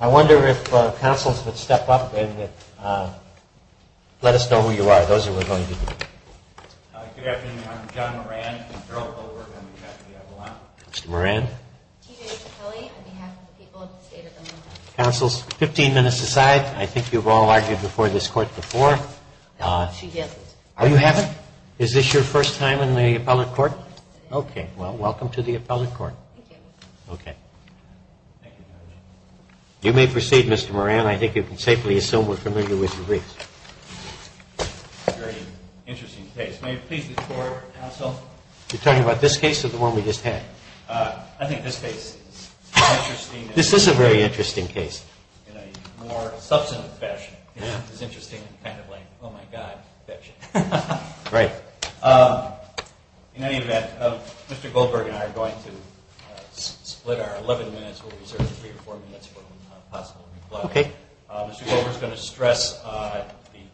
I wonder if counsels would step up and let us know who you are. Those are we're going to do. Good afternoon. I'm John Moran. Mr. Moran. Councils, 15 minutes aside. I think you've all argued before this court before. She hasn't. Oh, you haven't? Is this your first time in the appellate court? Okay. Well, welcome to the appellate court. Okay. You may proceed, Mr. Moran. I think you can safely assume we're familiar with the briefs. Very interesting case. May it please the court, counsel. You're talking about this case or the one we just had? I think this case is interesting. This is a very interesting case. In a more substantive fashion, it's interesting, kind of like, oh, my God, that shit. Right. In any event, Mr. Goldberg and I are going to split our 11 minutes. We'll reserve three or four minutes for possible rebuttal. Okay. Mr. Goldberg is going to stress the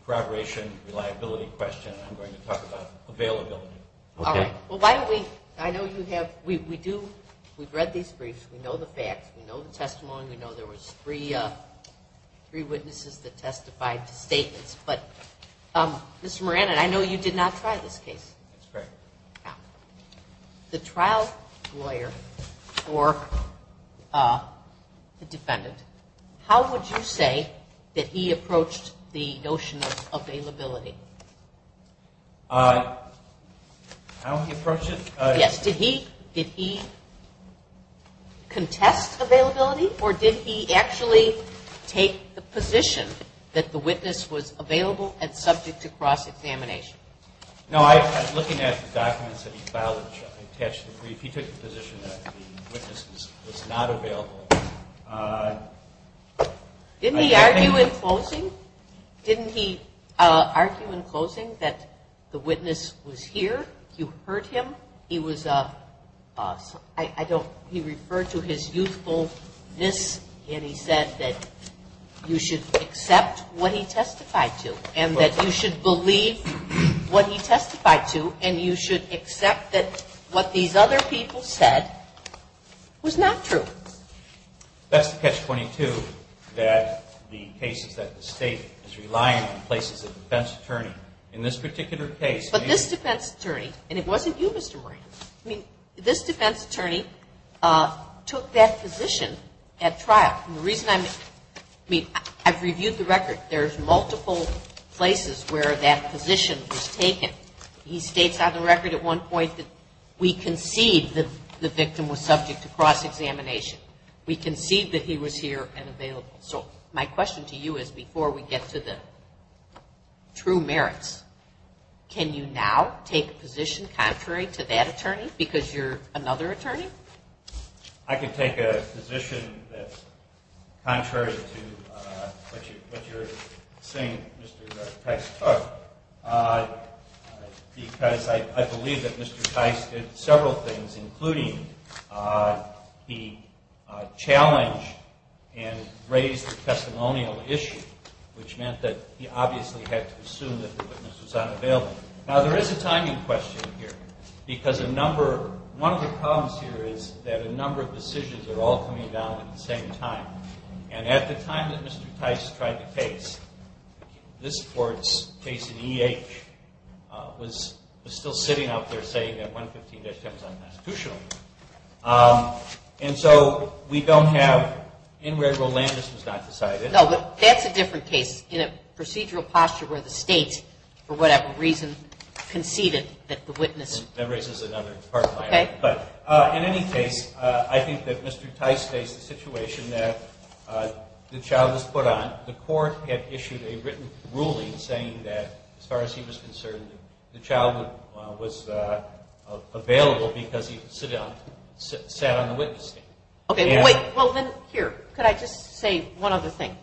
corroboration reliability question, and I'm going to talk about availability. Okay. All right. Well, why don't we, I know you have, we do, we've read these briefs, we know the facts, we know the testimony, we know there was three witnesses that testified to statements. But, Mr. Moran, and I know you did not try this case. That's correct. Now, the trial lawyer or the defendant, how would you say that he approached the notion of availability? How he approached it? Yes. Did he contest availability, or did he actually take the position that the witness was available and subject to cross-examination? No, I was looking at the documents that he filed and attached to the brief. He took the position that the witness was not available. Didn't he argue in closing? Didn't he argue in closing that the witness was here? You heard him? He was a, I don't, he referred to his youthfulness, and he said that you should accept what he testified to, and that you should believe what he testified to, and you should accept that what these other people said was not true. That's the catch-22, that the case is that the State is relying on places of defense attorney. In this particular case. But this defense attorney, and it wasn't you, Mr. Moran. I mean, this defense attorney took that position at trial. And the reason I'm, I mean, I've reviewed the record. There's multiple places where that position was taken. He states on the record at one point that we concede that the victim was subject to cross-examination. We concede that he was here and available. So my question to you is, before we get to the true merits, can you now take a position contrary to that attorney, because you're another attorney? I can take a position that's contrary to what you're saying Mr. Tice took, because I believe that Mr. Tice did several things, including he challenged and raised a testimonial issue, which meant that he obviously had to assume that the witness was unavailable. Now, there is a timing question here, because a number, one of the problems here is that a number of decisions are all coming down at the same time. And at the time that Mr. Tice tried the case, this court's case in E.H. was still sitting out there saying that 115-10 is unconstitutional. And so we don't have, in where Rolandos was not decided. No, but that's a different case in a procedural posture where the state, for whatever reason, conceded that the witness. That raises another part of my argument. Okay. In any case, I think that Mr. Tice faced a situation that the child was put on. The court had issued a written ruling saying that, as far as he was concerned, the child was available because he sat on the witness stand. Okay. Well, then here, could I just say one other thing?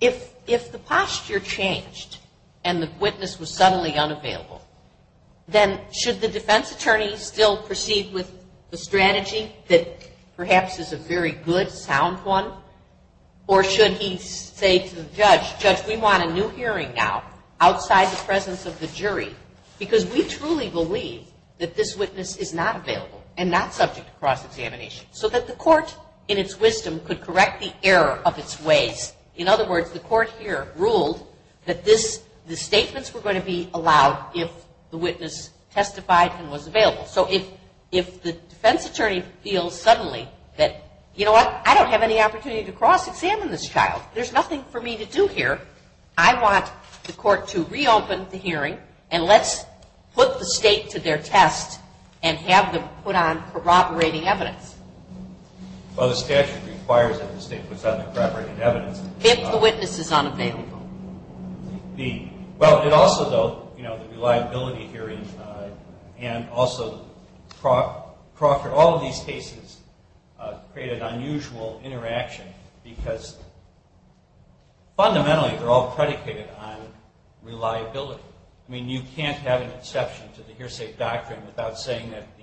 If the posture changed and the witness was suddenly unavailable, then should the defense attorney still proceed with the strategy that perhaps is a very good, sound one? Or should he say to the judge, Judge, we want a new hearing now outside the presence of the jury, because we truly believe that this witness is not available and not subject to cross-examination. So that the court, in its wisdom, could correct the error of its ways. In other words, the court here ruled that the statements were going to be allowed if the witness testified and was available. So if the defense attorney feels suddenly that, you know what, I don't have any opportunity to cross-examine this child. There's nothing for me to do here. I want the court to reopen the hearing and let's put the state to their test and have them put on corroborating evidence. Well, the statute requires that the state puts on the corroborating evidence. If the witness is unavailable. Well, it also, though, you know, the reliability hearing and also the proctor, all of these cases create an unusual interaction because fundamentally they're all predicated on reliability. I mean, you can't have an exception to the hearsay doctrine without saying that the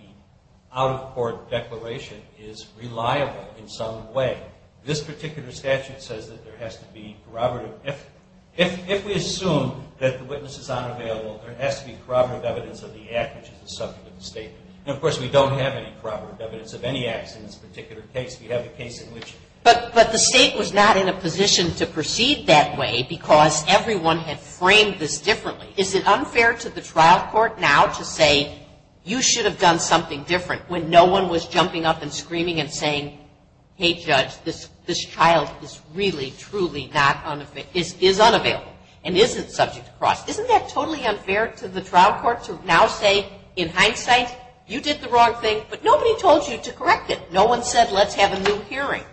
out-of-court declaration is reliable in some way. This particular statute says that there has to be corroborative evidence. If we assume that the witness is unavailable, there has to be corroborative evidence of the act, which is the subject of the statement. And, of course, we don't have any corroborative evidence of any acts in this particular case. But the state was not in a position to proceed that way because everyone had framed this differently. Is it unfair to the trial court now to say you should have done something different when no one was jumping up and screaming and saying, hey, judge, this child is really, truly is unavailable and isn't subject to cross-examination. Isn't that totally unfair to the trial court to now say, in hindsight, you did the wrong thing, but nobody told you to correct it. No one said, let's have a new hearing.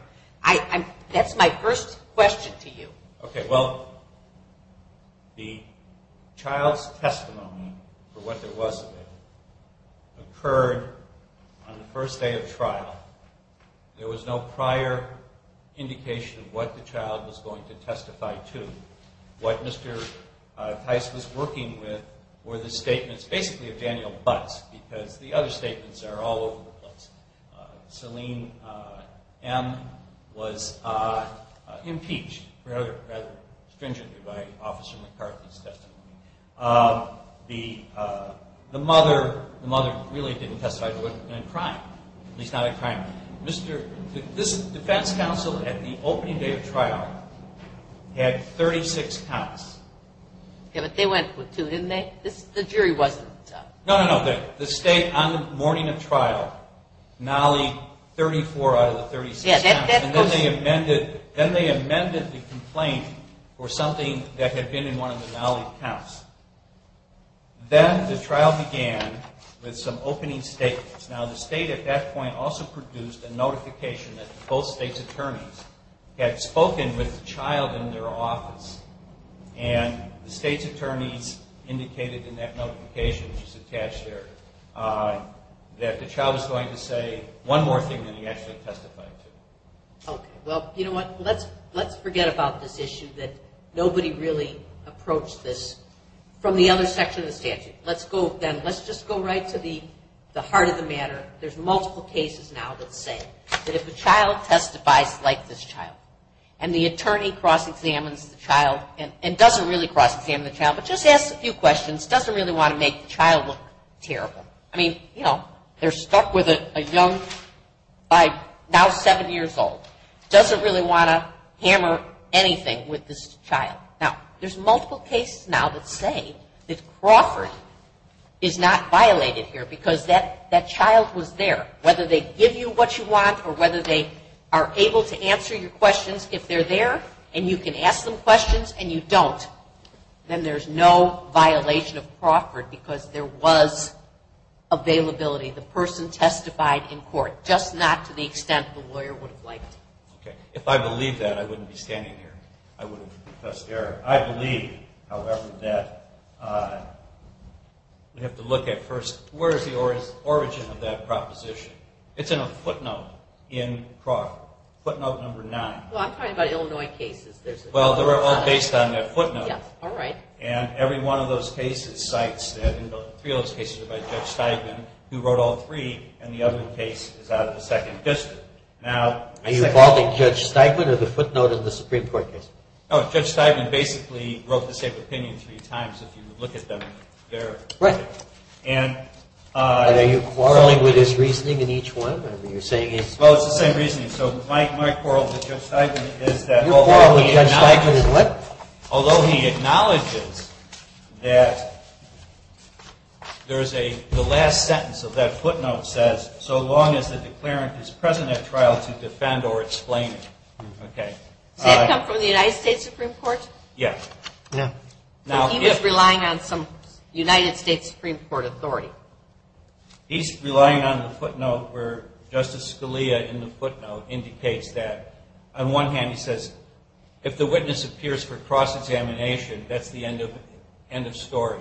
That's my first question to you. Okay, well, the child's testimony for what there was available occurred on the first day of trial. There was no prior indication of what the child was going to testify to. What Mr. Theis was working with were the statements basically of Daniel Butz because the other statements are all over the place. Selene M. was impeached rather stringently by Officer McCarthy's testimony. The mother really didn't testify to it. It wasn't a crime, at least not a crime. This defense counsel at the opening day of trial had 36 counts. Yeah, but they went with two, didn't they? The jury wasn't. No, no, no. The state, on the morning of trial, nollie 34 out of the 36 counts. And then they amended the complaint for something that had been in one of the nollie counts. Then the trial began with some opening statements. Now, the state at that point also produced a notification that both states' attorneys had spoken with the child in their office. And the state's attorneys indicated in that notification, which is attached there, that the child was going to say one more thing than he actually testified to. Okay. Well, you know what? Let's forget about this issue that nobody really approached this from the other section of the statute. Let's just go right to the heart of the matter. There's multiple cases now that say that if a child testifies like this child and the attorney cross-examines the child and doesn't really cross-examine the child but just asks a few questions, doesn't really want to make the child look terrible. I mean, you know, they're stuck with a young, now 7 years old, doesn't really want to hammer anything with this child. Now, there's multiple cases now that say that Crawford is not violated here because that child was there. Whether they give you what you want or whether they are able to answer your questions, if they're there and you can ask them questions and you don't, then there's no violation of Crawford because there was availability. The person testified in court, just not to the extent the lawyer would have liked. Okay. If I believed that, I wouldn't be standing here. I wouldn't be Professor Garrett. I believe, however, that we have to look at first where is the origin of that proposition. It's in a footnote in Crawford, footnote number 9. Well, I'm talking about Illinois cases. Well, they're all based on that footnote. All right. And every one of those cases cites that three of those cases are by Judge Steigman who wrote all three and the other case is out of the second district. Are you involving Judge Steigman or the footnote in the Supreme Court case? No. Judge Steigman basically wrote the same opinion three times if you look at them there. Right. And are you quarreling with his reasoning in each one? Well, it's the same reasoning. So my quarrel with Judge Steigman is that although he acknowledges that there is a last sentence of that footnote says so long as the declarant is present at trial to defend or explain it. Okay. Does that come from the United States Supreme Court? Yes. Yeah. He was relying on some United States Supreme Court authority. He's relying on the footnote where Justice Scalia in the footnote indicates that. On one hand, he says if the witness appears for cross-examination, that's the end of story.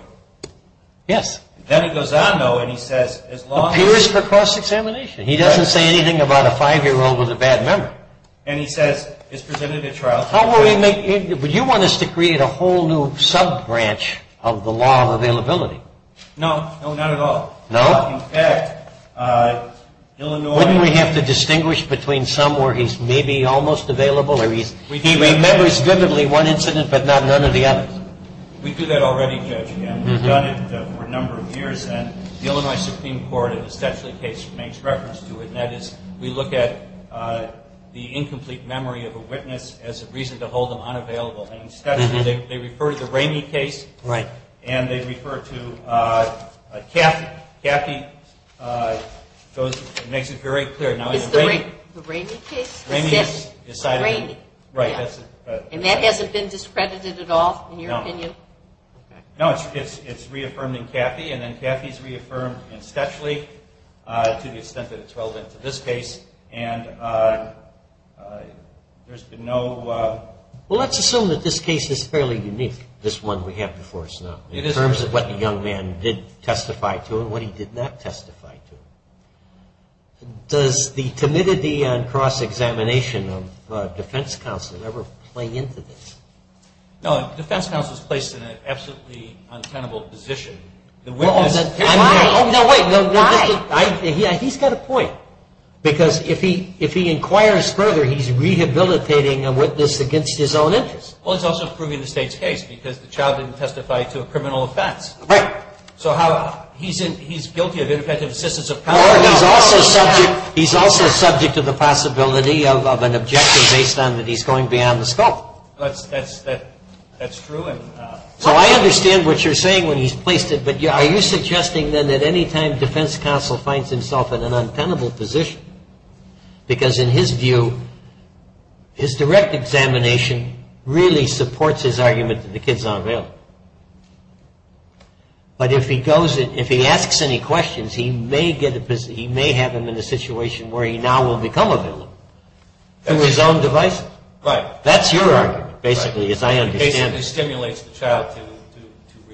Yes. Then it goes on, though, and he says as long as... Appears for cross-examination. Right. He doesn't say anything about a 5-year-old with a bad memory. And he says is presented at trial... How will he make... Would you want us to create a whole new sub-branch of the law of availability? No. No, not at all. No? In fact, Illinois... Wouldn't we have to distinguish between some where he's maybe almost available or he remembers vividly one incident but not none of the others? We do that already, Judge, and we've done it for a number of years. And the Illinois Supreme Court in the Stetchley case makes reference to it, and that is we look at the incomplete memory of a witness as a reason to hold them unavailable. And in Stetchley, they refer to the Ramey case. Right. And they refer to Cathy. Cathy makes it very clear. It's the Ramey case? Ramey is decided... Ramey. Right. And that hasn't been discredited at all in your opinion? No. No, it's reaffirmed in Cathy. And then Cathy is reaffirmed in Stetchley to the extent that it's relevant to this case. And there's been no... Well, let's assume that this case is fairly unique, this one we have before us now. It is. In terms of what the young man did testify to and what he did not testify to. Does the timidity and cross-examination of defense counsel ever play into this? No. Defense counsel is placed in an absolutely untenable position. The witness... Why? No, wait. Why? He's got a point. Because if he inquires further, he's rehabilitating a witness against his own interest. Well, he's also proving the State's case because the child didn't testify to a criminal offense. Right. So how... He's guilty of ineffective assistance of power. He's also subject to the possibility of an objection based on that he's going beyond the scope. Well, that's true. So I understand what you're saying when he's placed it, but are you suggesting then that any time defense counsel finds himself in an untenable position? Because in his view, his direct examination really supports his argument that the kid's not a villain. But if he goes and if he asks any questions, he may have him in a situation where he now will become a villain through his own devices. Right. That's your argument, basically, as I understand it. It basically stimulates the child to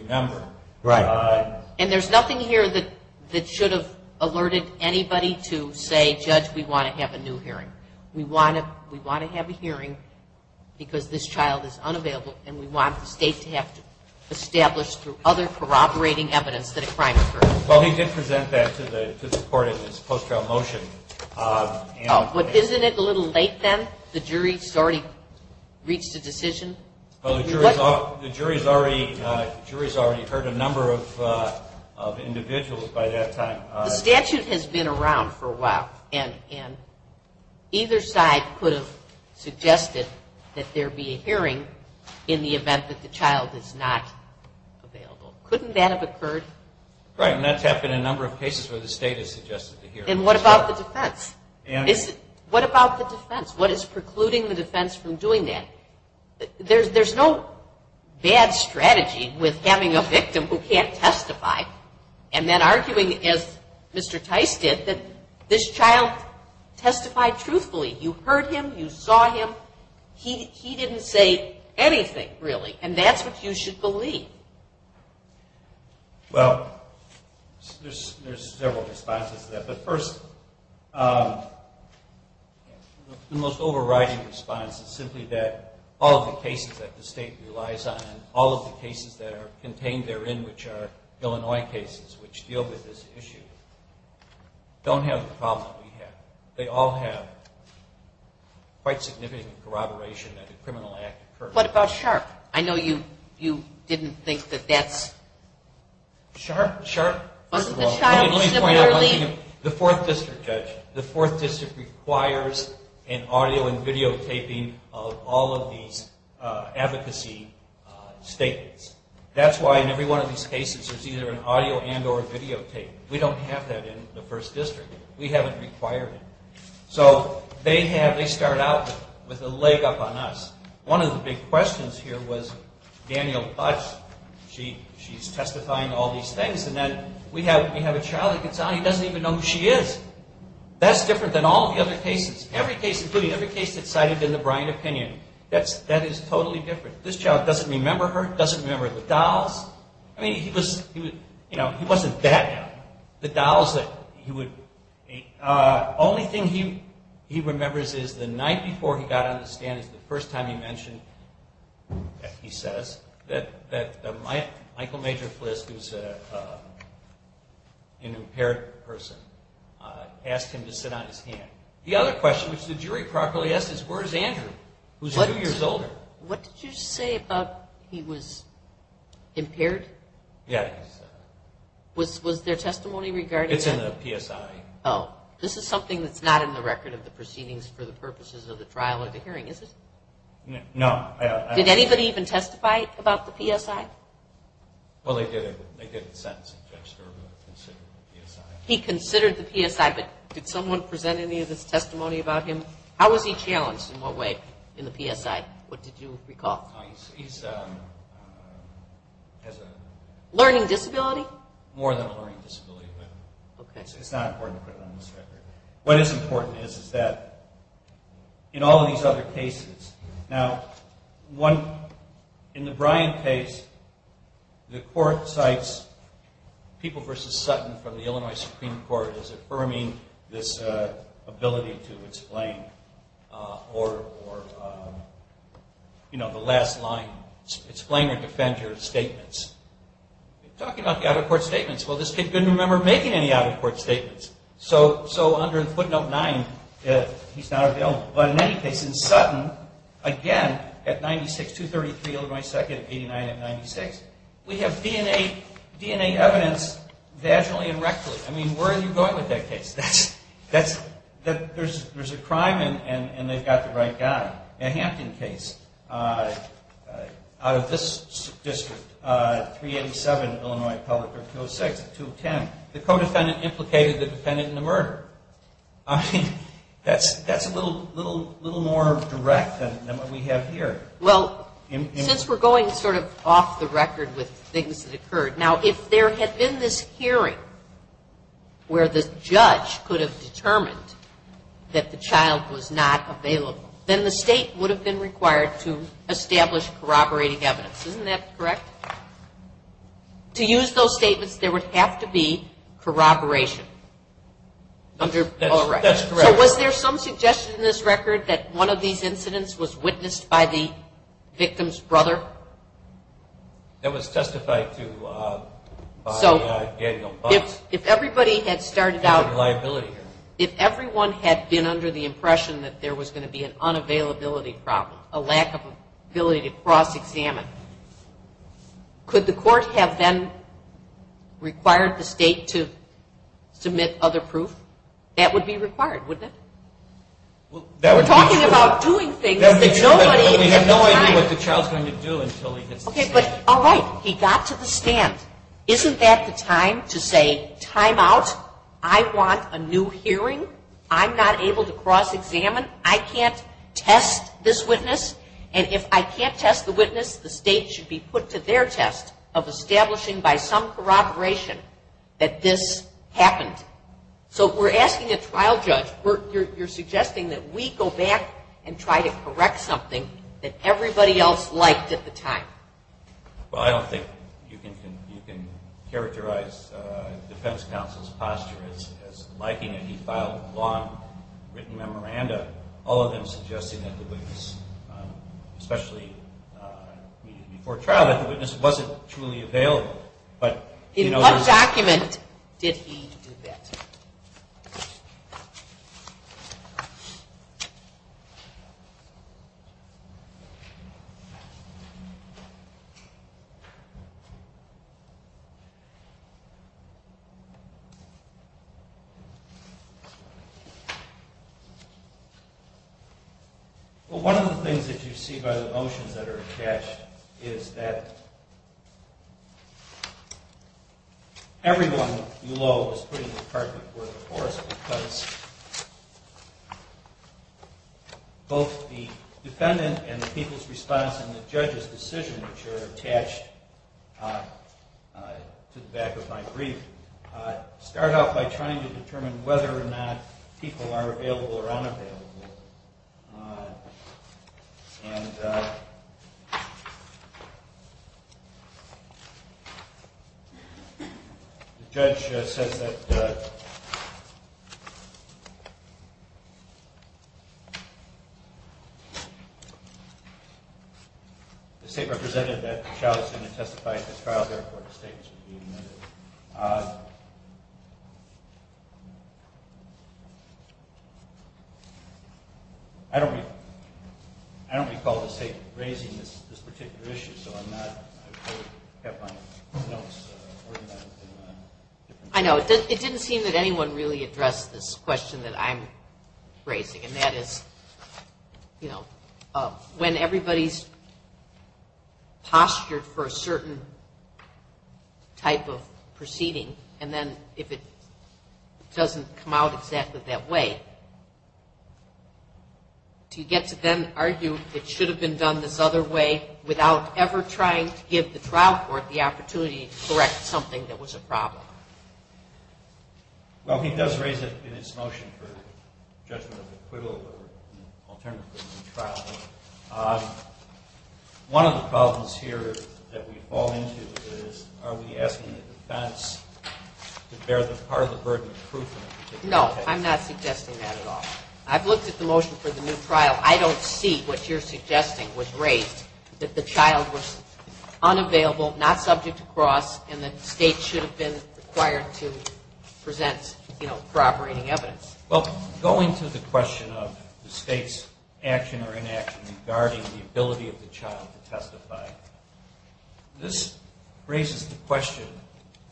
remember. Right. And there's nothing here that should have alerted anybody to say, Judge, we want to have a new hearing. We want to have a hearing because this child is unavailable, and we want the State to have to establish through other corroborating evidence that a crime occurred. Well, he did present that to the court in his post-trial motion. Isn't it a little late then? The jury has already reached a decision? The jury has already heard a number of individuals by that time. The statute has been around for a while, and either side could have suggested that there be a hearing in the event that the child is not available. Couldn't that have occurred? Right, and that's happened in a number of cases where the State has suggested a hearing. And what about the defense? What about the defense? What is precluding the defense from doing that? There's no bad strategy with having a victim who can't testify and then arguing, as Mr. Tice did, that this child testified truthfully. You heard him. You saw him. He didn't say anything, really, and that's what you should believe. Well, there's several responses to that. But first, the most overriding response is simply that all of the cases that the State relies on and all of the cases that are contained therein, which are Illinois cases, which deal with this issue, don't have the problem that we have. They all have quite significant corroboration that a criminal act occurred. What about Sharp? I know you didn't think that that's... Sharp, first of all, let me point out one thing. The Fourth District, Judge, the Fourth District requires an audio and videotaping of all of these advocacy statements. That's why in every one of these cases there's either an audio and or videotape. We don't have that in the First District. We haven't required it. So they start out with a leg up on us. One of the big questions here was Daniel Butts. She's testifying to all these things, and then we have a child that gets out and he doesn't even know who she is. That's different than all of the other cases, every case, including every case that's cited in the Bryant opinion. That is totally different. This child doesn't remember her, doesn't remember the dolls. I mean, he was, you know, he wasn't that young. The dolls that he would... The only thing he remembers is the night before he got on the stand is the first time he mentioned, he says, that Michael Major Flisk, who's an impaired person, asked him to sit on his hand. The other question, which the jury properly asked, is where's Andrew, who's two years older? What did you say about he was impaired? Yeah. Was there testimony regarding that? It's in the PSI. Oh. This is something that's not in the record of the proceedings for the purposes of the trial or the hearing, is it? No. Did anybody even testify about the PSI? Well, they did in the sentence. He considered the PSI, but did someone present any of this testimony about him? How was he challenged in what way in the PSI? What did you recall? He has a... Learning disability? More than a learning disability. It's not important to put it on this record. What is important is that in all of these other cases, now in the Bryant case, the court cites people versus Sutton from the Illinois Supreme Court as affirming this ability to explain or, you know, the last line, explain or defend your statements. Talking about the out-of-court statements. Well, this kid didn't remember making any out-of-court statements. So under footnote 9, he's not available. But in any case, in Sutton, again, at 96, 233 Illinois 2nd, 89 and 96, we have DNA evidence vaginally and rectally. I mean, where are you going with that case? There's a crime and they've got the right guy. In the Hampton case, out of this district, 387 Illinois public or 206, 210, the co-defendant implicated the defendant in the murder. I mean, that's a little more direct than what we have here. Well, since we're going sort of off the record with things that occurred, now if there had been this hearing where the judge could have determined that the child was not available, then the state would have been required to establish corroborating evidence. Isn't that correct? To use those statements, there would have to be corroboration. That's correct. So was there some suggestion in this record that one of these incidents was witnessed by the victim's brother? That was testified to by Daniel Fox. If everybody had started out, if everyone had been under the impression that there was going to be an unavailability problem, a lack of ability to cross-examine, could the court have then required the state to submit other proof? That would be required, wouldn't it? We're talking about doing things that nobody had the time. We have no idea what the child is going to do until he gets to the stand. All right, he got to the stand. Isn't that the time to say time out? I want a new hearing. I'm not able to cross-examine. I can't test this witness, and if I can't test the witness, the state should be put to their test of establishing by some corroboration that this happened. So if we're asking a trial judge, you're suggesting that we go back and try to correct something that everybody else liked at the time. Well, I don't think you can characterize the defense counsel's posture as liking it. He filed a long written memoranda, all of them suggesting that the witness, especially before trial, that the witness wasn't truly available. In what document did he do that? Well, one of the things that you see by the motions that are attached is that everyone below was putting the department before the courts because both the defendant and the people's response and the judge's decision, which are attached to the back of my brief, start out by trying to determine whether or not people are available or unavailable. And the judge says that the state represented that the child is going to testify at the trial, I don't recall the state raising this particular issue. I know. It didn't seem that anyone really addressed this question that I'm raising, and that is when everybody's postured for a certain type of proceeding and then if it doesn't come out exactly that way, do you get to then argue it should have been done this other way without ever trying to give the trial court the opportunity to correct something that was a problem? Well, he does raise it in his motion for judgment of acquittal or alternatively trial. One of the problems here that we fall into is are we asking the defense to bear the part of the burden of proof? No, I'm not suggesting that at all. I've looked at the motion for the new trial. I don't see what you're suggesting was raised, that the child was unavailable, not subject to cross, and that the state should have been required to present corroborating evidence. Well, going to the question of the state's action or inaction regarding the ability of the child to testify, this raises the question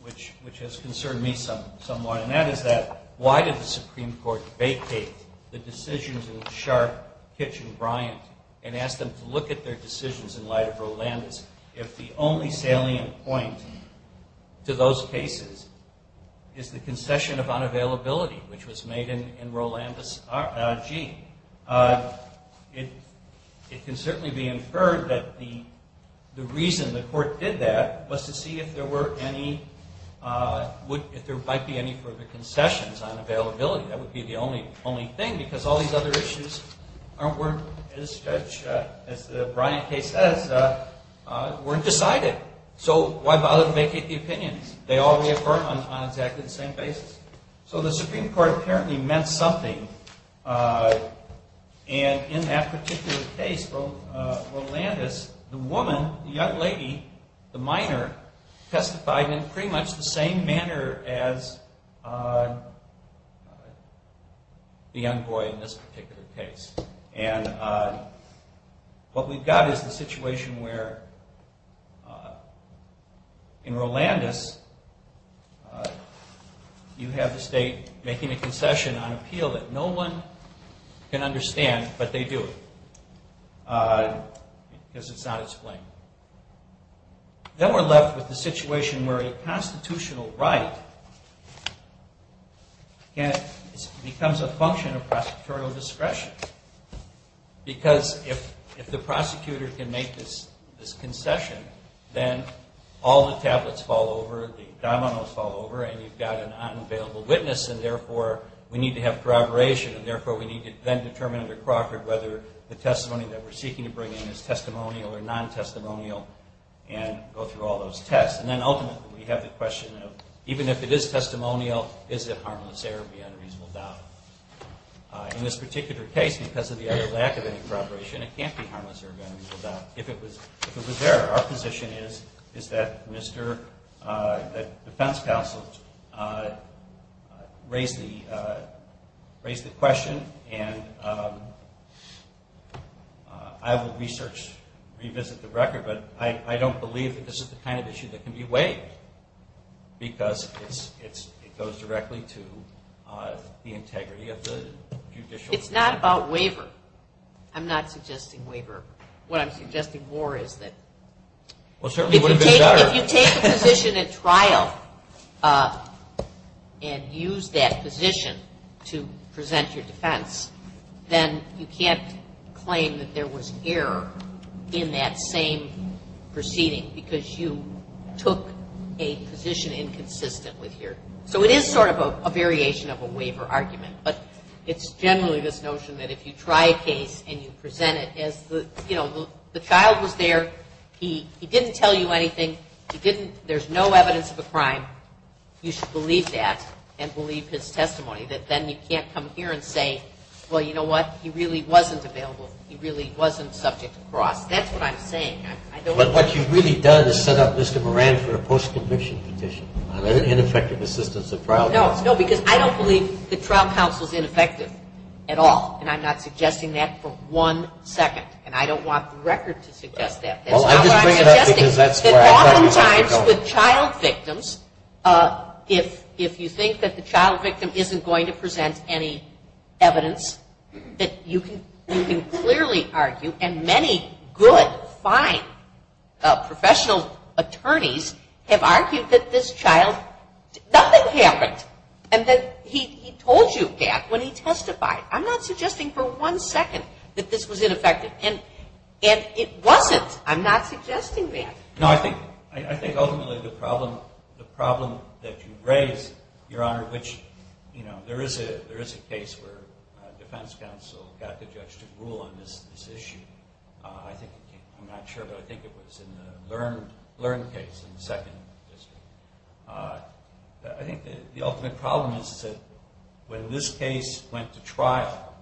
which has concerned me somewhat, and that is that why did the Supreme Court vacate the decisions in Sharp, Kitchen, Bryant, and ask them to look at their decisions in light of Rolandis if the only salient point to those cases is the concession of unavailability which was made in Rolandis, R.I.G.? It can certainly be inferred that the reason the court did that was to see if there were any, if there might be any further concessions on availability. That would be the only thing because all these other issues weren't as, as the Bryant case says, weren't decided. So why bother to vacate the opinions? They all reaffirm on exactly the same basis. So the Supreme Court apparently meant something, and in that particular case, Rolandis, the woman, the young lady, the minor testified in pretty much the same manner as the young boy in this particular case. And what we've got is the situation where in Rolandis you have the state making a concession on appeal that no one can understand, but they do because it's not its blame. Then we're left with the situation where a constitutional right becomes a function of prosecutorial discretion because if the prosecutor can make this concession, then all the tablets fall over, the dominoes fall over, and you've got an unavailable witness, and therefore we need to have corroboration, and therefore we need to then determine under Crawford whether the testimony that we're seeking to bring in is testimonial or non-testimonial and go through all those tests. And then ultimately we have the question of even if it is testimonial, is it harmless error beyond a reasonable doubt? In this particular case, because of the other lack of any corroboration, it can't be harmless error beyond a reasonable doubt. If it was error, our position is that the defense counsel raise the question, and I will research, revisit the record, but I don't believe that this is the kind of issue that can be waived because it goes directly to the integrity of the judicial procedure. It's not about waiver. I'm not suggesting waiver. What I'm suggesting more is that if you take a position at trial and use that position to present your defense, then you can't claim that there was error in that same proceeding because you took a position inconsistent with your. So it is sort of a variation of a waiver argument, but it's generally this notion that if you try a case and you present it as the child was there, he didn't tell you anything, there's no evidence of a crime, you should believe that and believe his testimony, that then you can't come here and say, well, you know what? He really wasn't available. He really wasn't subject to cross. That's what I'm saying. But what you've really done is set up Mr. Moran for a post-conviction petition on ineffective assistance at trial. No, because I don't believe the trial counsel is ineffective at all, and I'm not suggesting that for one second, and I don't want the record to suggest that. That's not what I'm suggesting. Oftentimes with child victims, if you think that the child victim isn't going to present any evidence, that you can clearly argue, and many good, fine professional attorneys have argued that this child, nothing happened, and that he told you that when he testified. I'm not suggesting for one second that this was ineffective, and it wasn't. I'm not suggesting that. No, I think ultimately the problem that you raise, Your Honor, which there is a case where defense counsel got the judge to rule on this issue. I'm not sure, but I think it was in the Learn case in the second district. I think the ultimate problem is that when this case went to trial,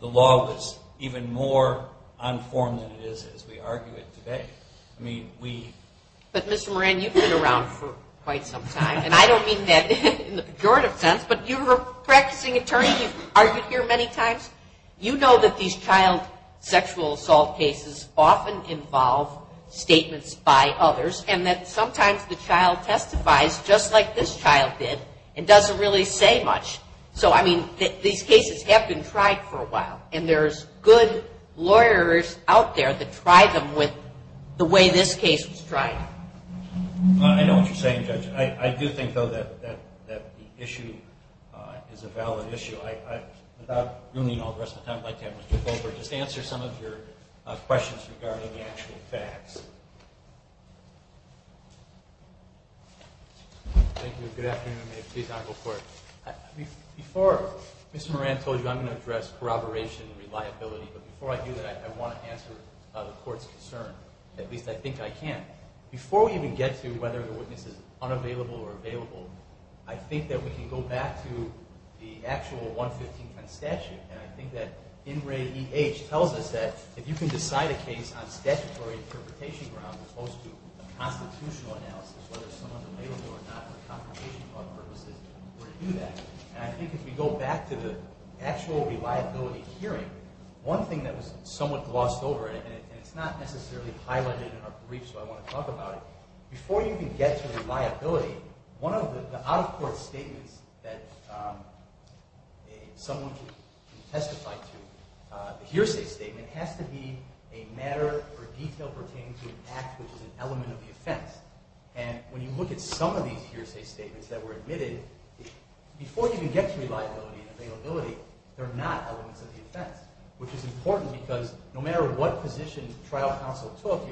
the law was even more unformed than it is as we argue it today. But, Mr. Moran, you've been around for quite some time, and I don't mean that in the pejorative sense, but you're a practicing attorney. You've argued here many times. You know that these child sexual assault cases often involve statements by others, and that sometimes the child testifies just like this child did and doesn't really say much. So, I mean, these cases have been tried for a while, and there's good lawyers out there that tried them with the way this case was tried. I know what you're saying, Judge. I do think, though, that the issue is a valid issue. Without ruining all the rest of the time, I'd like to have Mr. Goldberg just answer some of your questions regarding the actual facts. Thank you. Good afternoon. May it please the Honorable Court. Before Ms. Moran told you I'm going to address corroboration and reliability, but before I do that, I want to answer the Court's concern. At least I think I can. Before we even get to whether the witness is unavailable or available, I think that we can go back to the actual 11510 statute, and I think that In Re E H tells us that if you can decide a case on statutory interpretation grounds as opposed to a constitutional analysis, whether someone's available or not for confirmation purposes, we're going to do that. And I think if we go back to the actual reliability hearing, one thing that was somewhat glossed over, and it's not necessarily highlighted in our briefs, but I want to talk about it. Before you can get to reliability, one of the out-of-court statements that someone can testify to, the hearsay statement has to be a matter or detail pertaining to an act which is an element of the offense. And when you look at some of these hearsay statements that were admitted, before you can get to reliability and availability, they're not elements of the offense, which is important because no matter what position trial counsel took,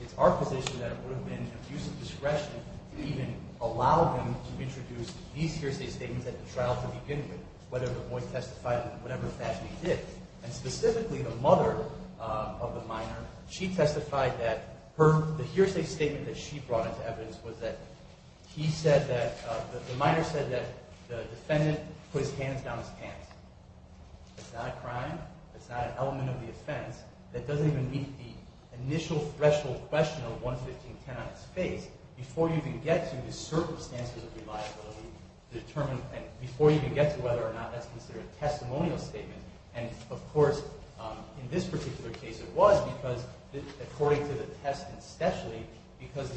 it's our position that it would have been an abuse of discretion to even allow them to introduce these hearsay statements at the trial to begin with, whether the boy testified in whatever fashion he did. And specifically, the mother of the minor, she testified that the hearsay statement that she brought into evidence was that the minor said that the defendant put his hands down his pants. It's not a crime. It's not an element of the offense. That doesn't even meet the initial threshold question of 11510 on its face. Before you can get to the circumstances of reliability, before you can get to whether or not that's considered a testimonial statement, and of course in this particular case it was because according to the test and specialty, because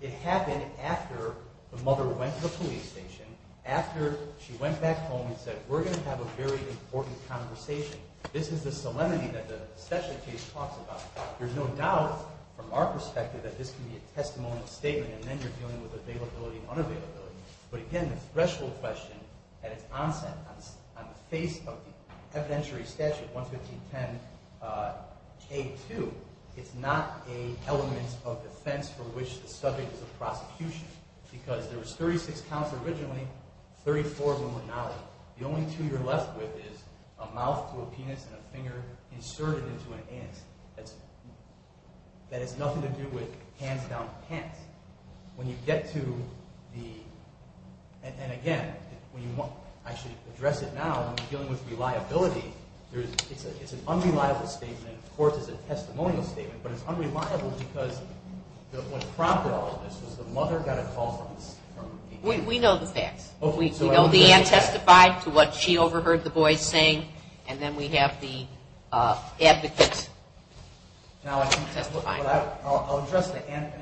it happened after the mother went to the police station, after she went back home and said, we're going to have a very important conversation. This is the solemnity that the specialty case talks about. There's no doubt from our perspective that this can be a testimonial statement, and then you're dealing with availability and unavailability. But again, the threshold question at its onset on the face of the evidentiary statute, 11510A2, it's not an element of defense for which the subject is a prosecution. Because there was 36 counts originally, 34 of them were not. The only two you're left with is a mouth to a penis and a finger inserted into an ant. That has nothing to do with hands down pants. When you get to the – and again, I should address it now, when you're dealing with reliability, it's an unreliable statement. Of course it's a testimonial statement, but it's unreliable because what prompted all of this was the mother got a call from the – We know the facts. We know the ant testified to what she overheard the boys saying, and then we have the advocate testifying. I'll address the ant.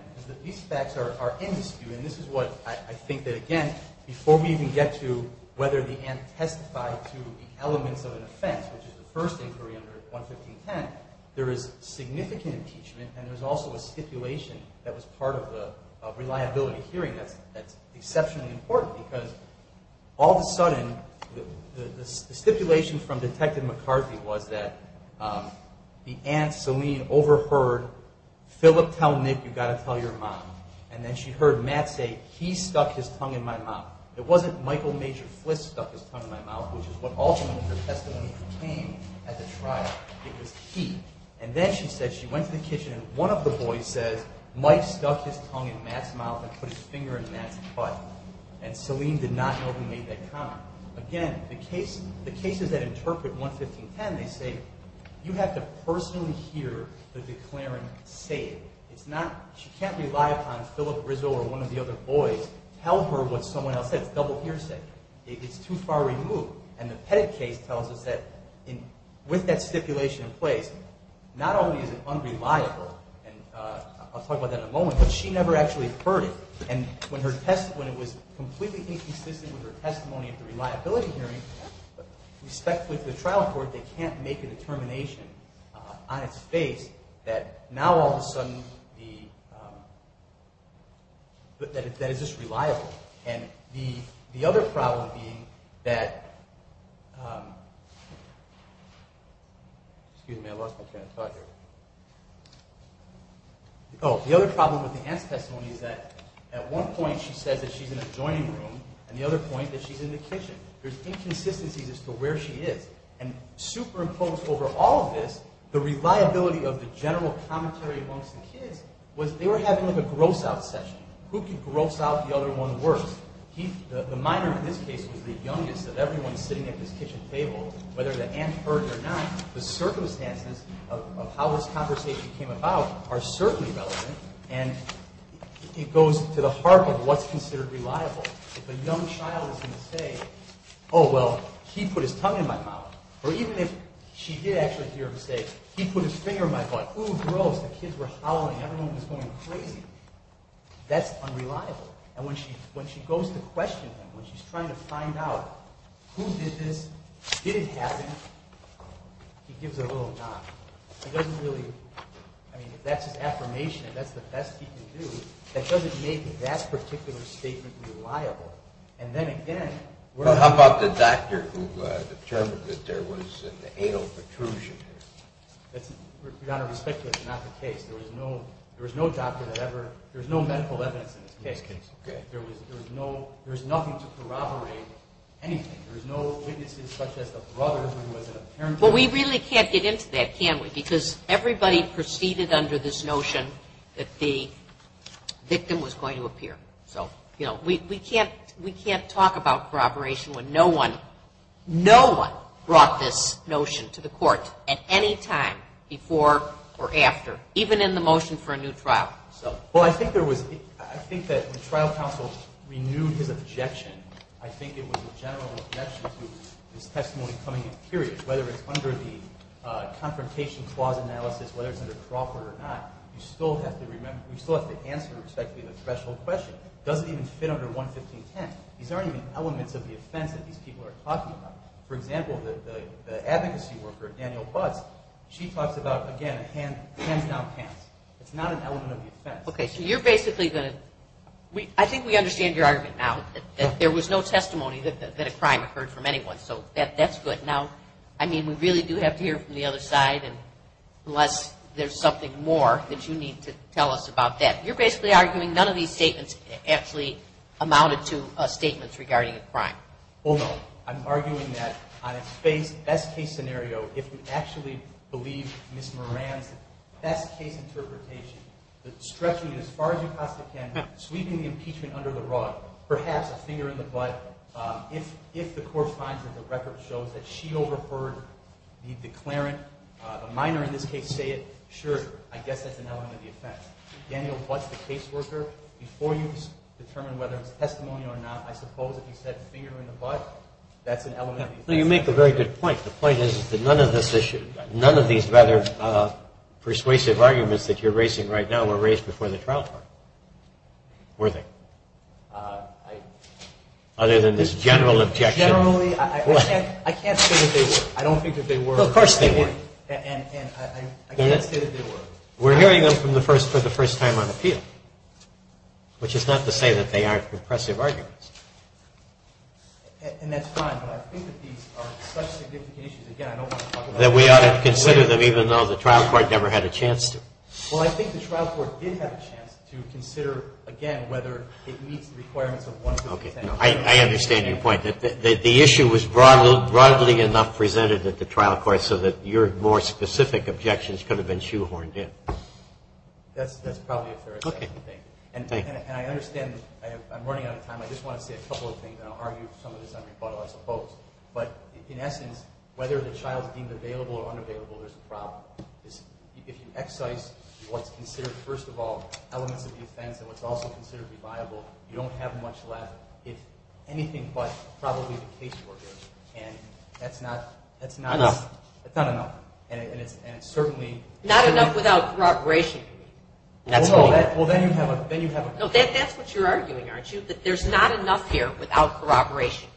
These facts are in dispute, and this is what I think that, again, before we even get to whether the ant testified to the elements of an offense, which is the first inquiry under 11510, there is significant impeachment, and there's also a stipulation that was part of the reliability hearing that's exceptionally important. All of a sudden, the stipulation from Detective McCarthy was that the ant, Celine, overheard Philip tell Nick, you've got to tell your mom, and then she heard Matt say, he stuck his tongue in my mouth. It wasn't Michael Major Fliss stuck his tongue in my mouth, which is what ultimately her testimony became at the trial. It was he. And then she said she went to the kitchen, and one of the boys says, Mike stuck his tongue in Matt's mouth and put his finger in Matt's butt. And Celine did not know he made that comment. Again, the cases that interpret 11510, they say you have to personally hear the declarant say it. She can't rely upon Philip Rizzo or one of the other boys to tell her what someone else said. It's double hearsay. It's too far removed. And the Pettit case tells us that with that stipulation in place, not only is it unreliable, and I'll talk about that in a moment, but she never actually heard it. And when it was completely inconsistent with her testimony at the reliability hearing, respectfully to the trial court, they can't make a determination on its face that now all of a sudden, that it's just reliable. And the other problem being that, excuse me, I lost my train of thought here. Oh, the other problem with the aunt's testimony is that at one point she says that she's in a joining room and the other point that she's in the kitchen. There's inconsistencies as to where she is. And superimposed over all of this, the reliability of the general commentary amongst the kids was they were having like a gross-out session. Who could gross out the other one worse? The minor in this case was the youngest of everyone sitting at this kitchen table, whether the aunt heard or not, the circumstances of how this conversation came about are certainly relevant and it goes to the heart of what's considered reliable. If a young child is going to say, oh, well, he put his tongue in my mouth, or even if she did actually hear him say, he put his finger in my butt, ooh, gross, the kids were howling, everyone was going crazy. That's unreliable. And when she goes to question him, when she's trying to find out who did this, did it happen, he gives her a little nod. He doesn't really, I mean, if that's his affirmation and that's the best he can do, that doesn't make that particular statement reliable. And then again... Well, how about the doctor who determined that there was an anal protrusion here? Your Honor, respectfully, that's not the case. There was no doctor that ever, there was no medical evidence in this case. There was nothing to corroborate anything. There was no witnesses such as the brother who was an apparent... Well, we really can't get into that, can we? Because everybody proceeded under this notion that the victim was going to appear. So, you know, we can't talk about corroboration when no one, no one brought this notion to the court at any time before or after, even in the motion for a new trial. Well, I think there was, I think that the trial counsel renewed his objection. I think it was a general objection to this testimony coming in period. Whether it's under the confrontation clause analysis, whether it's under Crawford or not, you still have to remember, you still have to answer, respectfully, the threshold question. It doesn't even fit under 11510. These aren't even elements of the offense that these people are talking about. For example, the advocacy worker, Danielle Butz, she talks about, again, hands down pants. It's not an element of the offense. Okay, so you're basically going to, I think we understand your argument now, that there was no testimony that a crime occurred from anyone. So that's good. Now, I mean, we really do have to hear from the other side, unless there's something more that you need to tell us about that. You're basically arguing none of these statements actually amounted to statements regarding a crime. Well, no. I'm arguing that on a best-case scenario, if we actually believe Ms. Moran's best-case interpretation, stretching it as far as you possibly can, sweeping the impeachment under the rug, perhaps a finger in the butt, if the court finds that the record shows that she overheard the declarant, the minor in this case say it, sure, I guess that's an element of the offense. Danielle Butz, the caseworker, before you determine whether it was testimony or not, I suppose if you said finger in the butt, that's an element of the offense. You make a very good point. The point is that none of this issue, none of these rather persuasive arguments that you're raising right now were raised before the trial court, were they? Other than this general objection. Generally, I can't say that they were. I don't think that they were. Well, of course they were. And I can't say that they were. We're hearing them for the first time on appeal, which is not to say that they aren't compressive arguments. And that's fine, but I think that these are such significant issues, again, I don't want to talk about them. That we ought to consider them, even though the trial court never had a chance to. Well, I think the trial court did have a chance to consider, again, whether it meets the requirements of one who attended. Okay. I understand your point. The issue was broadly enough presented at the trial court so that your more specific objections could have been shoehorned in. That's probably a fair assessment. And I understand I'm running out of time. I just want to say a couple of things, and I'll argue some of this on rebuttal, I suppose. But in essence, whether the child's deemed available or unavailable, there's a problem. If you excise what's considered, first of all, elements of the offense and what's also considered reliable, you don't have much left, if anything but probably the case worker. And that's not enough. Not enough without corroboration. That's what you're arguing, aren't you? That there's not enough here without corroboration.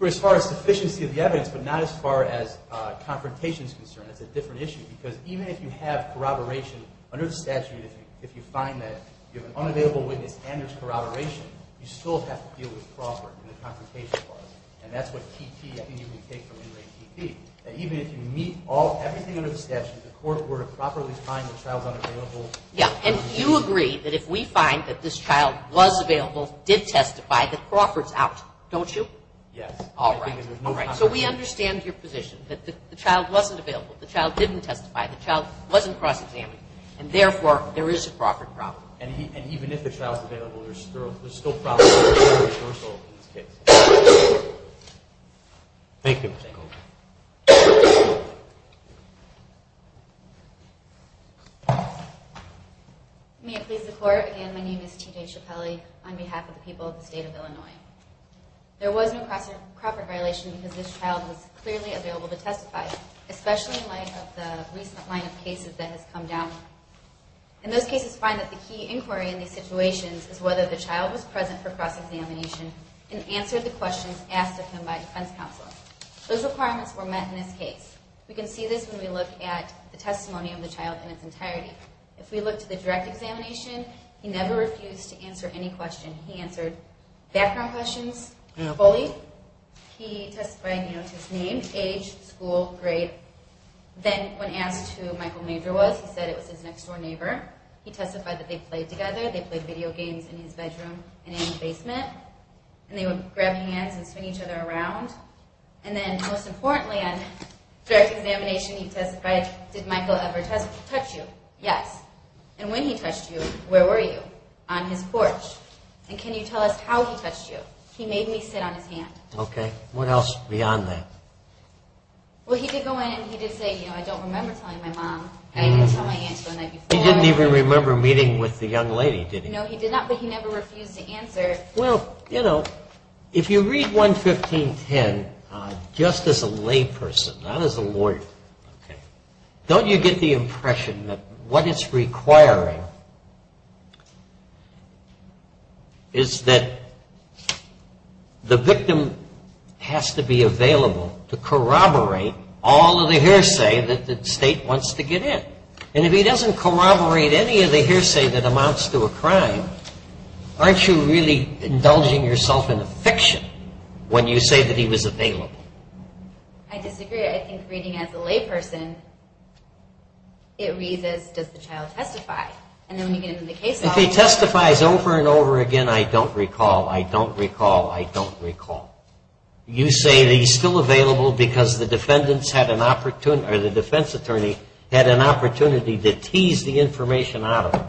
As far as sufficiency of the evidence, but not as far as confrontation is concerned. It's a different issue. Because even if you have corroboration under the statute, if you find that you have an unavailable witness and there's corroboration, you still have to deal with fraud in the confrontation clause. And that's what T.T. I think you can take from In Re T.P. That even if you meet everything under the statute, the court were to properly find the child unavailable. Yeah. And you agree that if we find that this child was available, did testify, that Crawford's out, don't you? Yes. All right. All right. So we understand your position, that the child wasn't available. The child didn't testify. The child wasn't cross-examined. And therefore, there is a Crawford problem. And even if the child's available, there's still a problem of reversal in this case. Thank you. May it please the Court. Again, my name is T.J. Ciappelli on behalf of the people of the State of Illinois. There was no Crawford violation because this child was clearly available to testify, especially in light of the recent line of cases that has come down. And those cases find that the key inquiry in these situations is whether the child was present for cross-examination and answered the questions asked of him by defense counsel. Those requirements were met in this case. We can see this when we look at the testimony of the child in its entirety. If we look to the direct examination, he never refused to answer any question. He answered background questions fully. He testified, you know, to his name, age, school, grade. Then when asked who Michael Major was, he said it was his next-door neighbor. He testified that they played together. They played video games in his bedroom and in his basement. And they would grab hands and swing each other around. And then, most importantly, on direct examination, he testified, did Michael ever touch you? Yes. And when he touched you, where were you? On his porch. And can you tell us how he touched you? He made me sit on his hand. Okay. What else beyond that? Well, he did go in and he did say, you know, I don't remember telling my mom. I didn't tell my aunts one night before. He didn't even remember meeting with the young lady, did he? No, he did not, but he never refused to answer. Well, you know, if you read 11510 just as a layperson, not as a lawyer, don't you get the impression that what it's requiring is that the victim has to be available? To corroborate all of the hearsay that the state wants to get in. And if he doesn't corroborate any of the hearsay that amounts to a crime, aren't you really indulging yourself in a fiction when you say that he was available? I disagree. I think reading as a layperson, it reads as, does the child testify? And then when you get into the case law. If he testifies over and over again, I don't recall. I don't recall. I don't recall. You say that he's still available because the defense attorney had an opportunity to tease the information out of him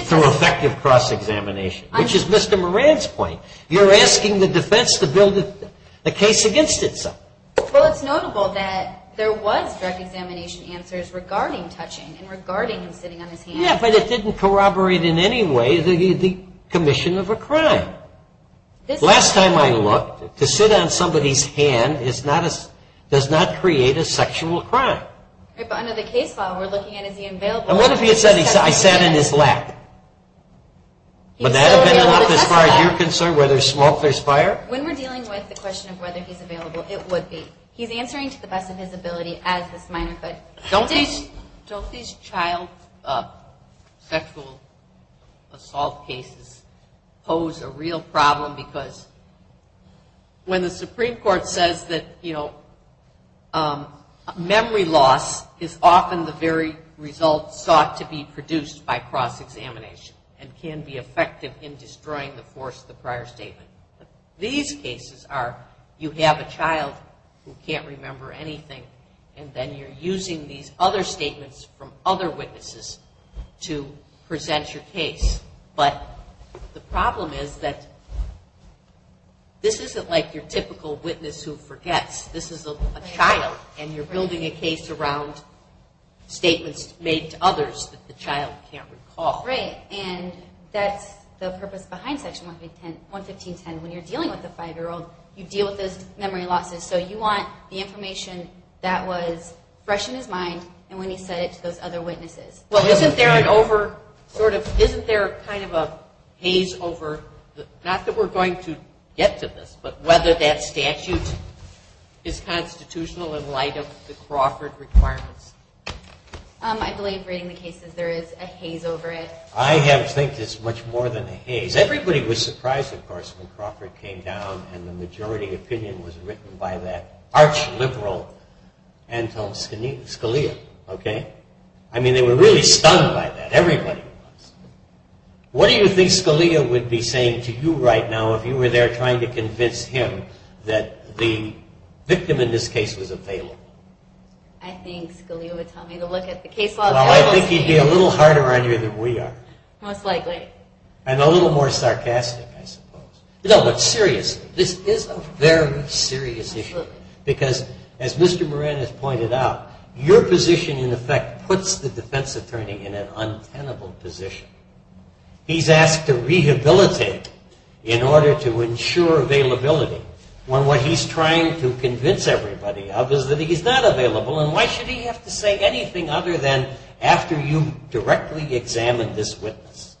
through effective cross-examination, which is Mr. Moran's point. You're asking the defense to build a case against itself. Well, it's notable that there was direct examination answers regarding touching and regarding him sitting on his hands. Yeah, but it didn't corroborate in any way the commission of a crime. Last time I looked, to sit on somebody's hand does not create a sexual crime. Right, but under the case law, we're looking at, is he available? And what if he had said, I sat in his lap? Would that have been enough as far as you're concerned, whether smoke or fire? When we're dealing with the question of whether he's available, it would be. He's answering to the best of his ability as this minor could. Don't these child sexual assault cases pose a real problem? Because when the Supreme Court says that memory loss is often the very result sought to be produced by cross-examination and can be effective in destroying the force of the prior statement. These cases are, you have a child who can't remember anything, and then you're using these other statements from other witnesses to present your case. But the problem is that this isn't like your typical witness who forgets. This is a child, and you're building a case around statements made to others that the child can't recall. Right, and that's the purpose behind Section 115.10. When you're dealing with a five-year-old, you deal with those memory losses. So you want the information that was fresh in his mind and when he said it to those other witnesses. Well, isn't there an over, sort of, isn't there kind of a haze over, not that we're going to get to this, but whether that statute is constitutional in light of the Crawford requirements? I believe, reading the cases, there is a haze over it. I have to think it's much more than a haze. Everybody was surprised, of course, when Crawford came down and the majority opinion was written by that arch-liberal Anton Scalia. Okay? I mean, they were really stunned by that. Everybody was. What do you think Scalia would be saying to you right now if you were there trying to convince him that the victim in this case was available? I think Scalia would tell me to look at the case logs. Well, I think he'd be a little harder on you than we are. Most likely. And a little more sarcastic, I suppose. No, but seriously, this is a very serious issue. Because, as Mr. Moran has pointed out, your position, in effect, puts the defense attorney in an untenable position. He's asked to rehabilitate in order to ensure availability when what he's trying to convince everybody of is that he's not available, and why should he have to say anything other than, after you've directly examined this witness,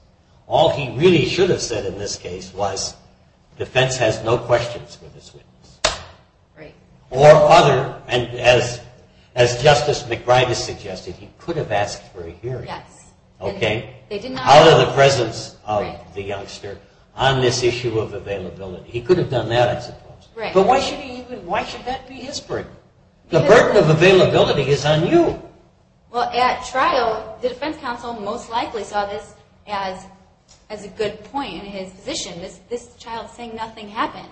all he really should have said in this case was, defense has no questions for this witness. Right. Or other, and as Justice McBride has suggested, he could have asked for a hearing. Yes. Okay? Out of the presence of the youngster on this issue of availability. He could have done that, I suppose. Right. But why should that be his burden? The burden of availability is on you. Well, at trial, the defense counsel most likely saw this as a good point in his position. This child saying nothing happened.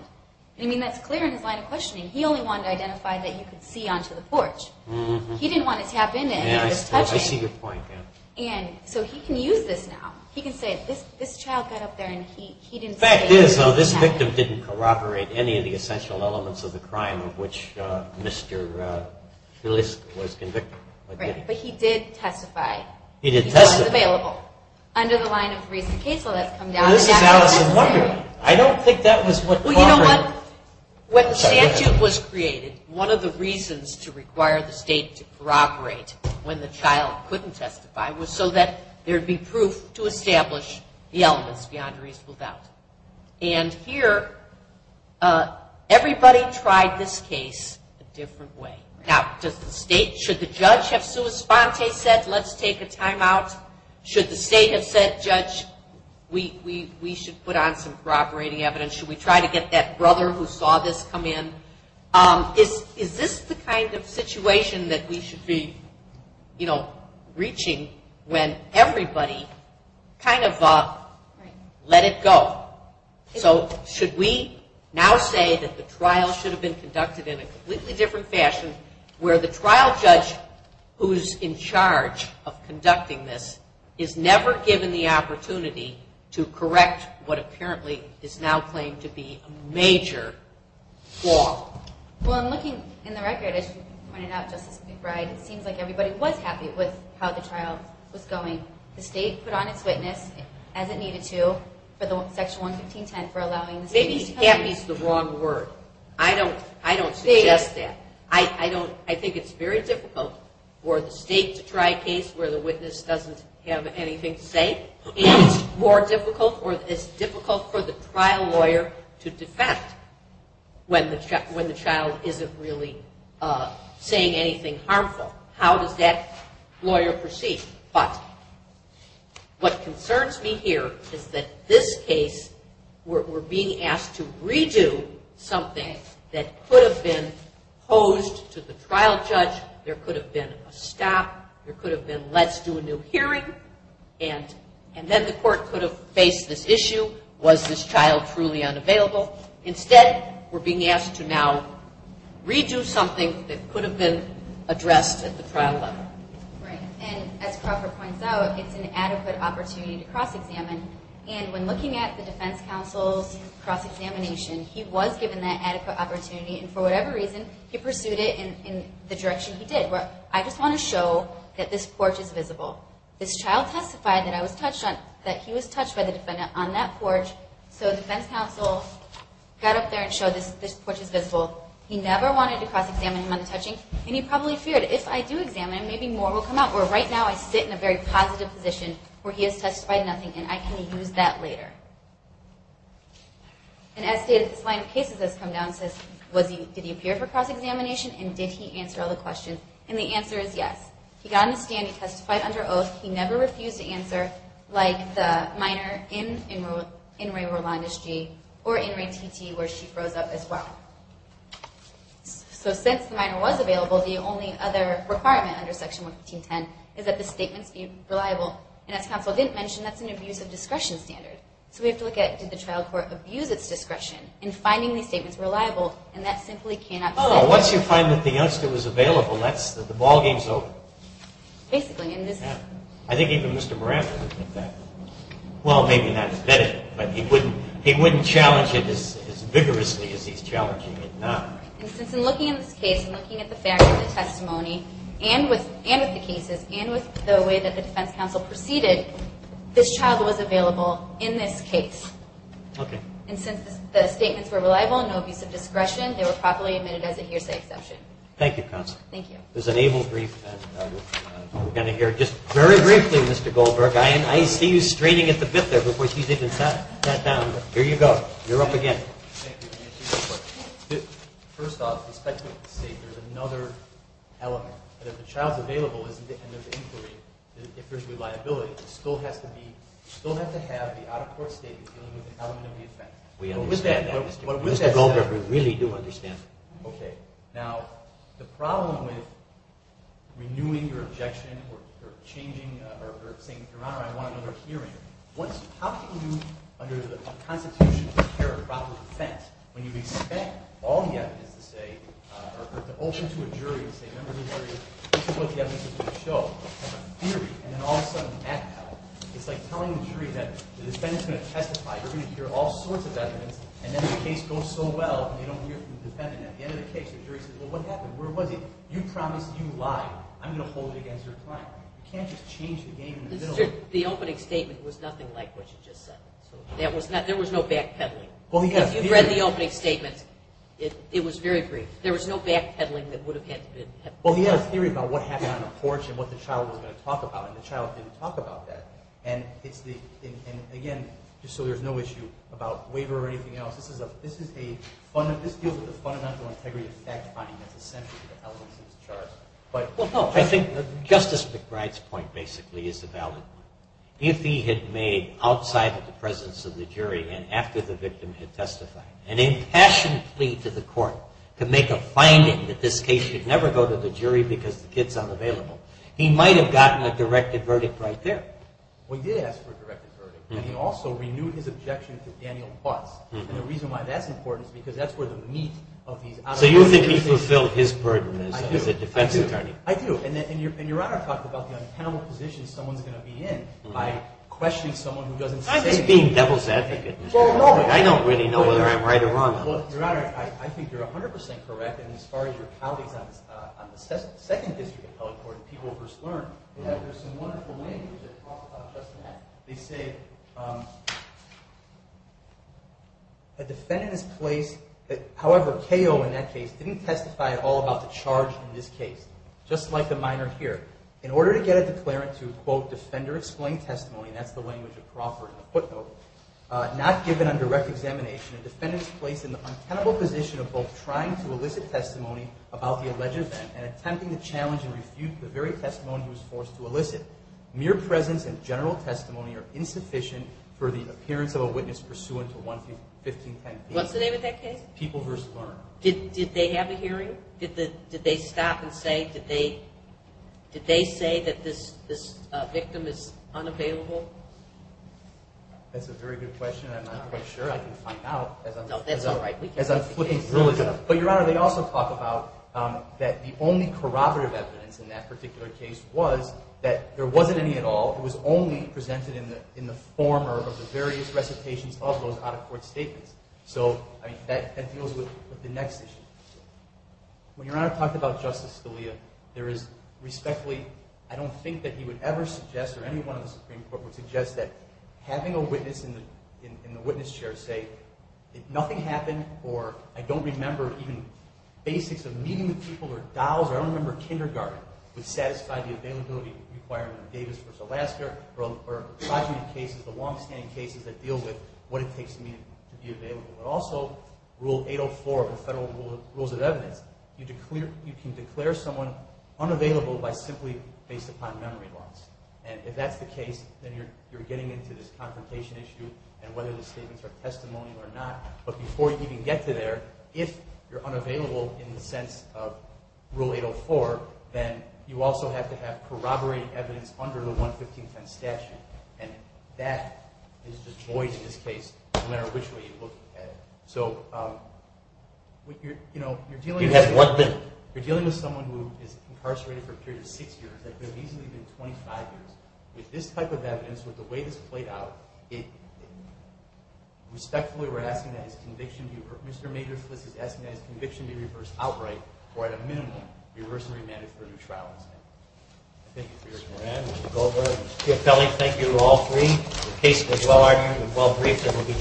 I mean, that's clear in his line of questioning. He only wanted to identify that you could see onto the porch. He didn't want to tap into any of this touching. I see your point, yeah. And so he can use this now. He can say, this child got up there and he didn't say anything. The fact is, though, this victim didn't corroborate any of the essential elements of the crime of which Mr. Filisk was convicted. Right. But he did testify. He did testify. He was available. Under the line of reasonable case law, that's come down. Well, this is Alice in Wonderland. I don't think that was what corroborated. Well, you know what? When the statute was created, one of the reasons to require the state to corroborate when the child couldn't testify was so that there would be proof to establish the elements beyond reasonable doubt. And here, everybody tried this case a different way. Now, should the judge have sua sponte said, let's take a timeout? Should the state have said, judge, we should put on some corroborating evidence? Should we try to get that brother who saw this come in? Is this the kind of situation that we should be, you know, So should we now say that the trial should have been conducted in a completely different fashion where the trial judge who's in charge of conducting this is never given the opportunity to correct what apparently is now claimed to be a major flaw? Well, I'm looking in the record, as you pointed out, Justice McBride, it seems like everybody was happy with how the trial was going. The state put on its witness as it needed to for the section 115.10 for allowing the state... Maybe happy is the wrong word. I don't suggest that. I think it's very difficult for the state to try a case where the witness doesn't have anything to say. And it's more difficult or it's difficult for the trial lawyer to defend when the child isn't really saying anything harmful. How does that lawyer proceed? But what concerns me here is that this case, we're being asked to redo something that could have been posed to the trial judge. There could have been a stop. There could have been, let's do a new hearing. And then the court could have faced this issue. Was this child truly unavailable? Instead, we're being asked to now redo something that could have been addressed at the trial level. Right. And as Crawford points out, it's an adequate opportunity to cross-examine. And when looking at the defense counsel's cross-examination, he was given that adequate opportunity. And for whatever reason, he pursued it in the direction he did. I just want to show that this porch is visible. This child testified that he was touched by the defendant on that porch. So the defense counsel got up there and showed this porch is visible. He never wanted to cross-examine him on the touching. And he probably feared, if I do examine him, maybe more will come out. Where right now, I sit in a very positive position where he has testified nothing, and I can use that later. And as his line of cases has come down, it says, did he appear for cross-examination, and did he answer all the questions? And the answer is yes. He got on the stand, he testified under oath, he never refused to answer like the minor in In Re Rolandes G, or In Re TT, where she froze up as well. So since the minor was available, the only other requirement under Section 115.10 is that the statements be reliable. And as counsel didn't mention, that's an abuse of discretion standard. So we have to look at, did the trial court abuse its discretion in finding these statements reliable? And that simply cannot be said. Oh, once you find that the youngster was available, that's the ballgame's over. Basically. I think even Mr. Marantz would think that. Well, maybe not as bedded, but he wouldn't challenge it as vigorously as he's challenging it now. And since I'm looking at this case, I'm looking at the fact that the testimony, and with the cases, and with the way that the defense counsel proceeded, this child was available in this case. Okay. And since the statements were reliable, no abuse of discretion, they were properly admitted as a hearsay exception. Thank you, counsel. Thank you. There's an able brief, and we're going to hear just very briefly, Mr. Goldberg. I see you straining at the bit there before she's even sat down. Here you go. You're up again. Thank you. First off, the speculative statement is another element. But if the child's available and there's inquiry, if there's reliability, it still has to be, still has to have the out-of-court statement dealing with the element of the offense. We understand that, Mr. Goldberg. We really do understand that. Okay. Now, the problem with renewing your objection or changing, or saying, Your Honor, I want another hearing, how can you, under the Constitution, prepare a proper defense when you expect all the evidence to say, or to open to a jury and say, Members of the jury, this is what the evidence is going to show. And the theory, and then all of a sudden, math hell. It's like telling the jury that the defendant's going to testify, you're going to hear all sorts of evidence, and then the case goes so well and they don't hear from the defendant. And at the end of the case, the jury says, well, what happened? Where was he? You promised you lied. I'm going to hold it against your client. You can't just change the game in the middle. The opening statement was nothing like what you just said. There was no backpedaling. If you read the opening statement, it was very brief. There was no backpedaling that would have had to have been. Well, he had a theory about what happened on the porch and what the child was going to talk about, and the child didn't talk about that. And, again, just so there's no issue about waiver or anything else, this deals with the fundamental integrity of fact-finding that's essential to the elements of this charge. Well, no, I think Justice McBride's point, basically, is a valid one. If he had made, outside of the presence of the jury and after the victim had testified, an impassioned plea to the court to make a finding that this case should never go to the jury because the kid's unavailable, he might have gotten a directed verdict right there. Well, he did ask for a directed verdict, and he also renewed his objection to Daniel Butz. And the reason why that's important is because that's where the meat of these I do. And Your Honor talked about the untenable position someone's going to be in by questioning someone who doesn't say anything. I'm just being devil's advocate. I don't really know whether I'm right or wrong. Well, Your Honor, I think you're 100% correct, and as far as your colleagues on the second district appellate court and people who just learned, there's some wonderful language that talks about just that. They say a defendant is placed, however, KO in that case, didn't testify at all about the charge in this case. Just like the minor here. In order to get a declarant to, quote, defender-explained testimony, and that's the language of Crawford in the footnote, not given on direct examination, a defendant is placed in the untenable position of both trying to elicit testimony about the alleged event and attempting to challenge and refute the very testimony he was forced to elicit. Mere presence and general testimony are insufficient for the appearance of a witness pursuant to 11510B. What's the name of that case? People v. Lerner. Did they have a hearing? Did they stop and say, did they say that this victim is unavailable? That's a very good question. I'm not quite sure. I can find out. No, that's all right. But, Your Honor, they also talk about that the only corroborative evidence in that particular case was that there wasn't any at all. It was only presented in the former of the various recitations of those out-of-court statements. So, I mean, that deals with the next issue. When Your Honor talked about Justice Scalia, there is respectfully, I don't think that he would ever suggest or anyone in the Supreme Court would suggest that having a witness in the witness chair say, nothing happened or I don't remember even basics of meeting the people or dolls or I don't remember kindergarten, would satisfy the availability requirement of Davis v. Alaska or progeny cases, the long-standing cases that deal with what it takes for a case to be available. But also Rule 804 of the Federal Rules of Evidence, you can declare someone unavailable by simply based upon memory loss. And if that's the case, then you're getting into this confrontation issue and whether the statements are testimonial or not. But before you even get to there, if you're unavailable in the sense of Rule 804, then you also have to have corroborating evidence under the 11510 statute. And that is just void in this case, no matter which way you look at it. So you're dealing with someone who is incarcerated for a period of six years, that could have easily been 25 years. With this type of evidence, with the way this played out, respectfully we're asking that his conviction be reversed outright or at a minimum, reverse and remand it for a new trial instead. Thank you for your time. Mr. Kelly, thank you to all three.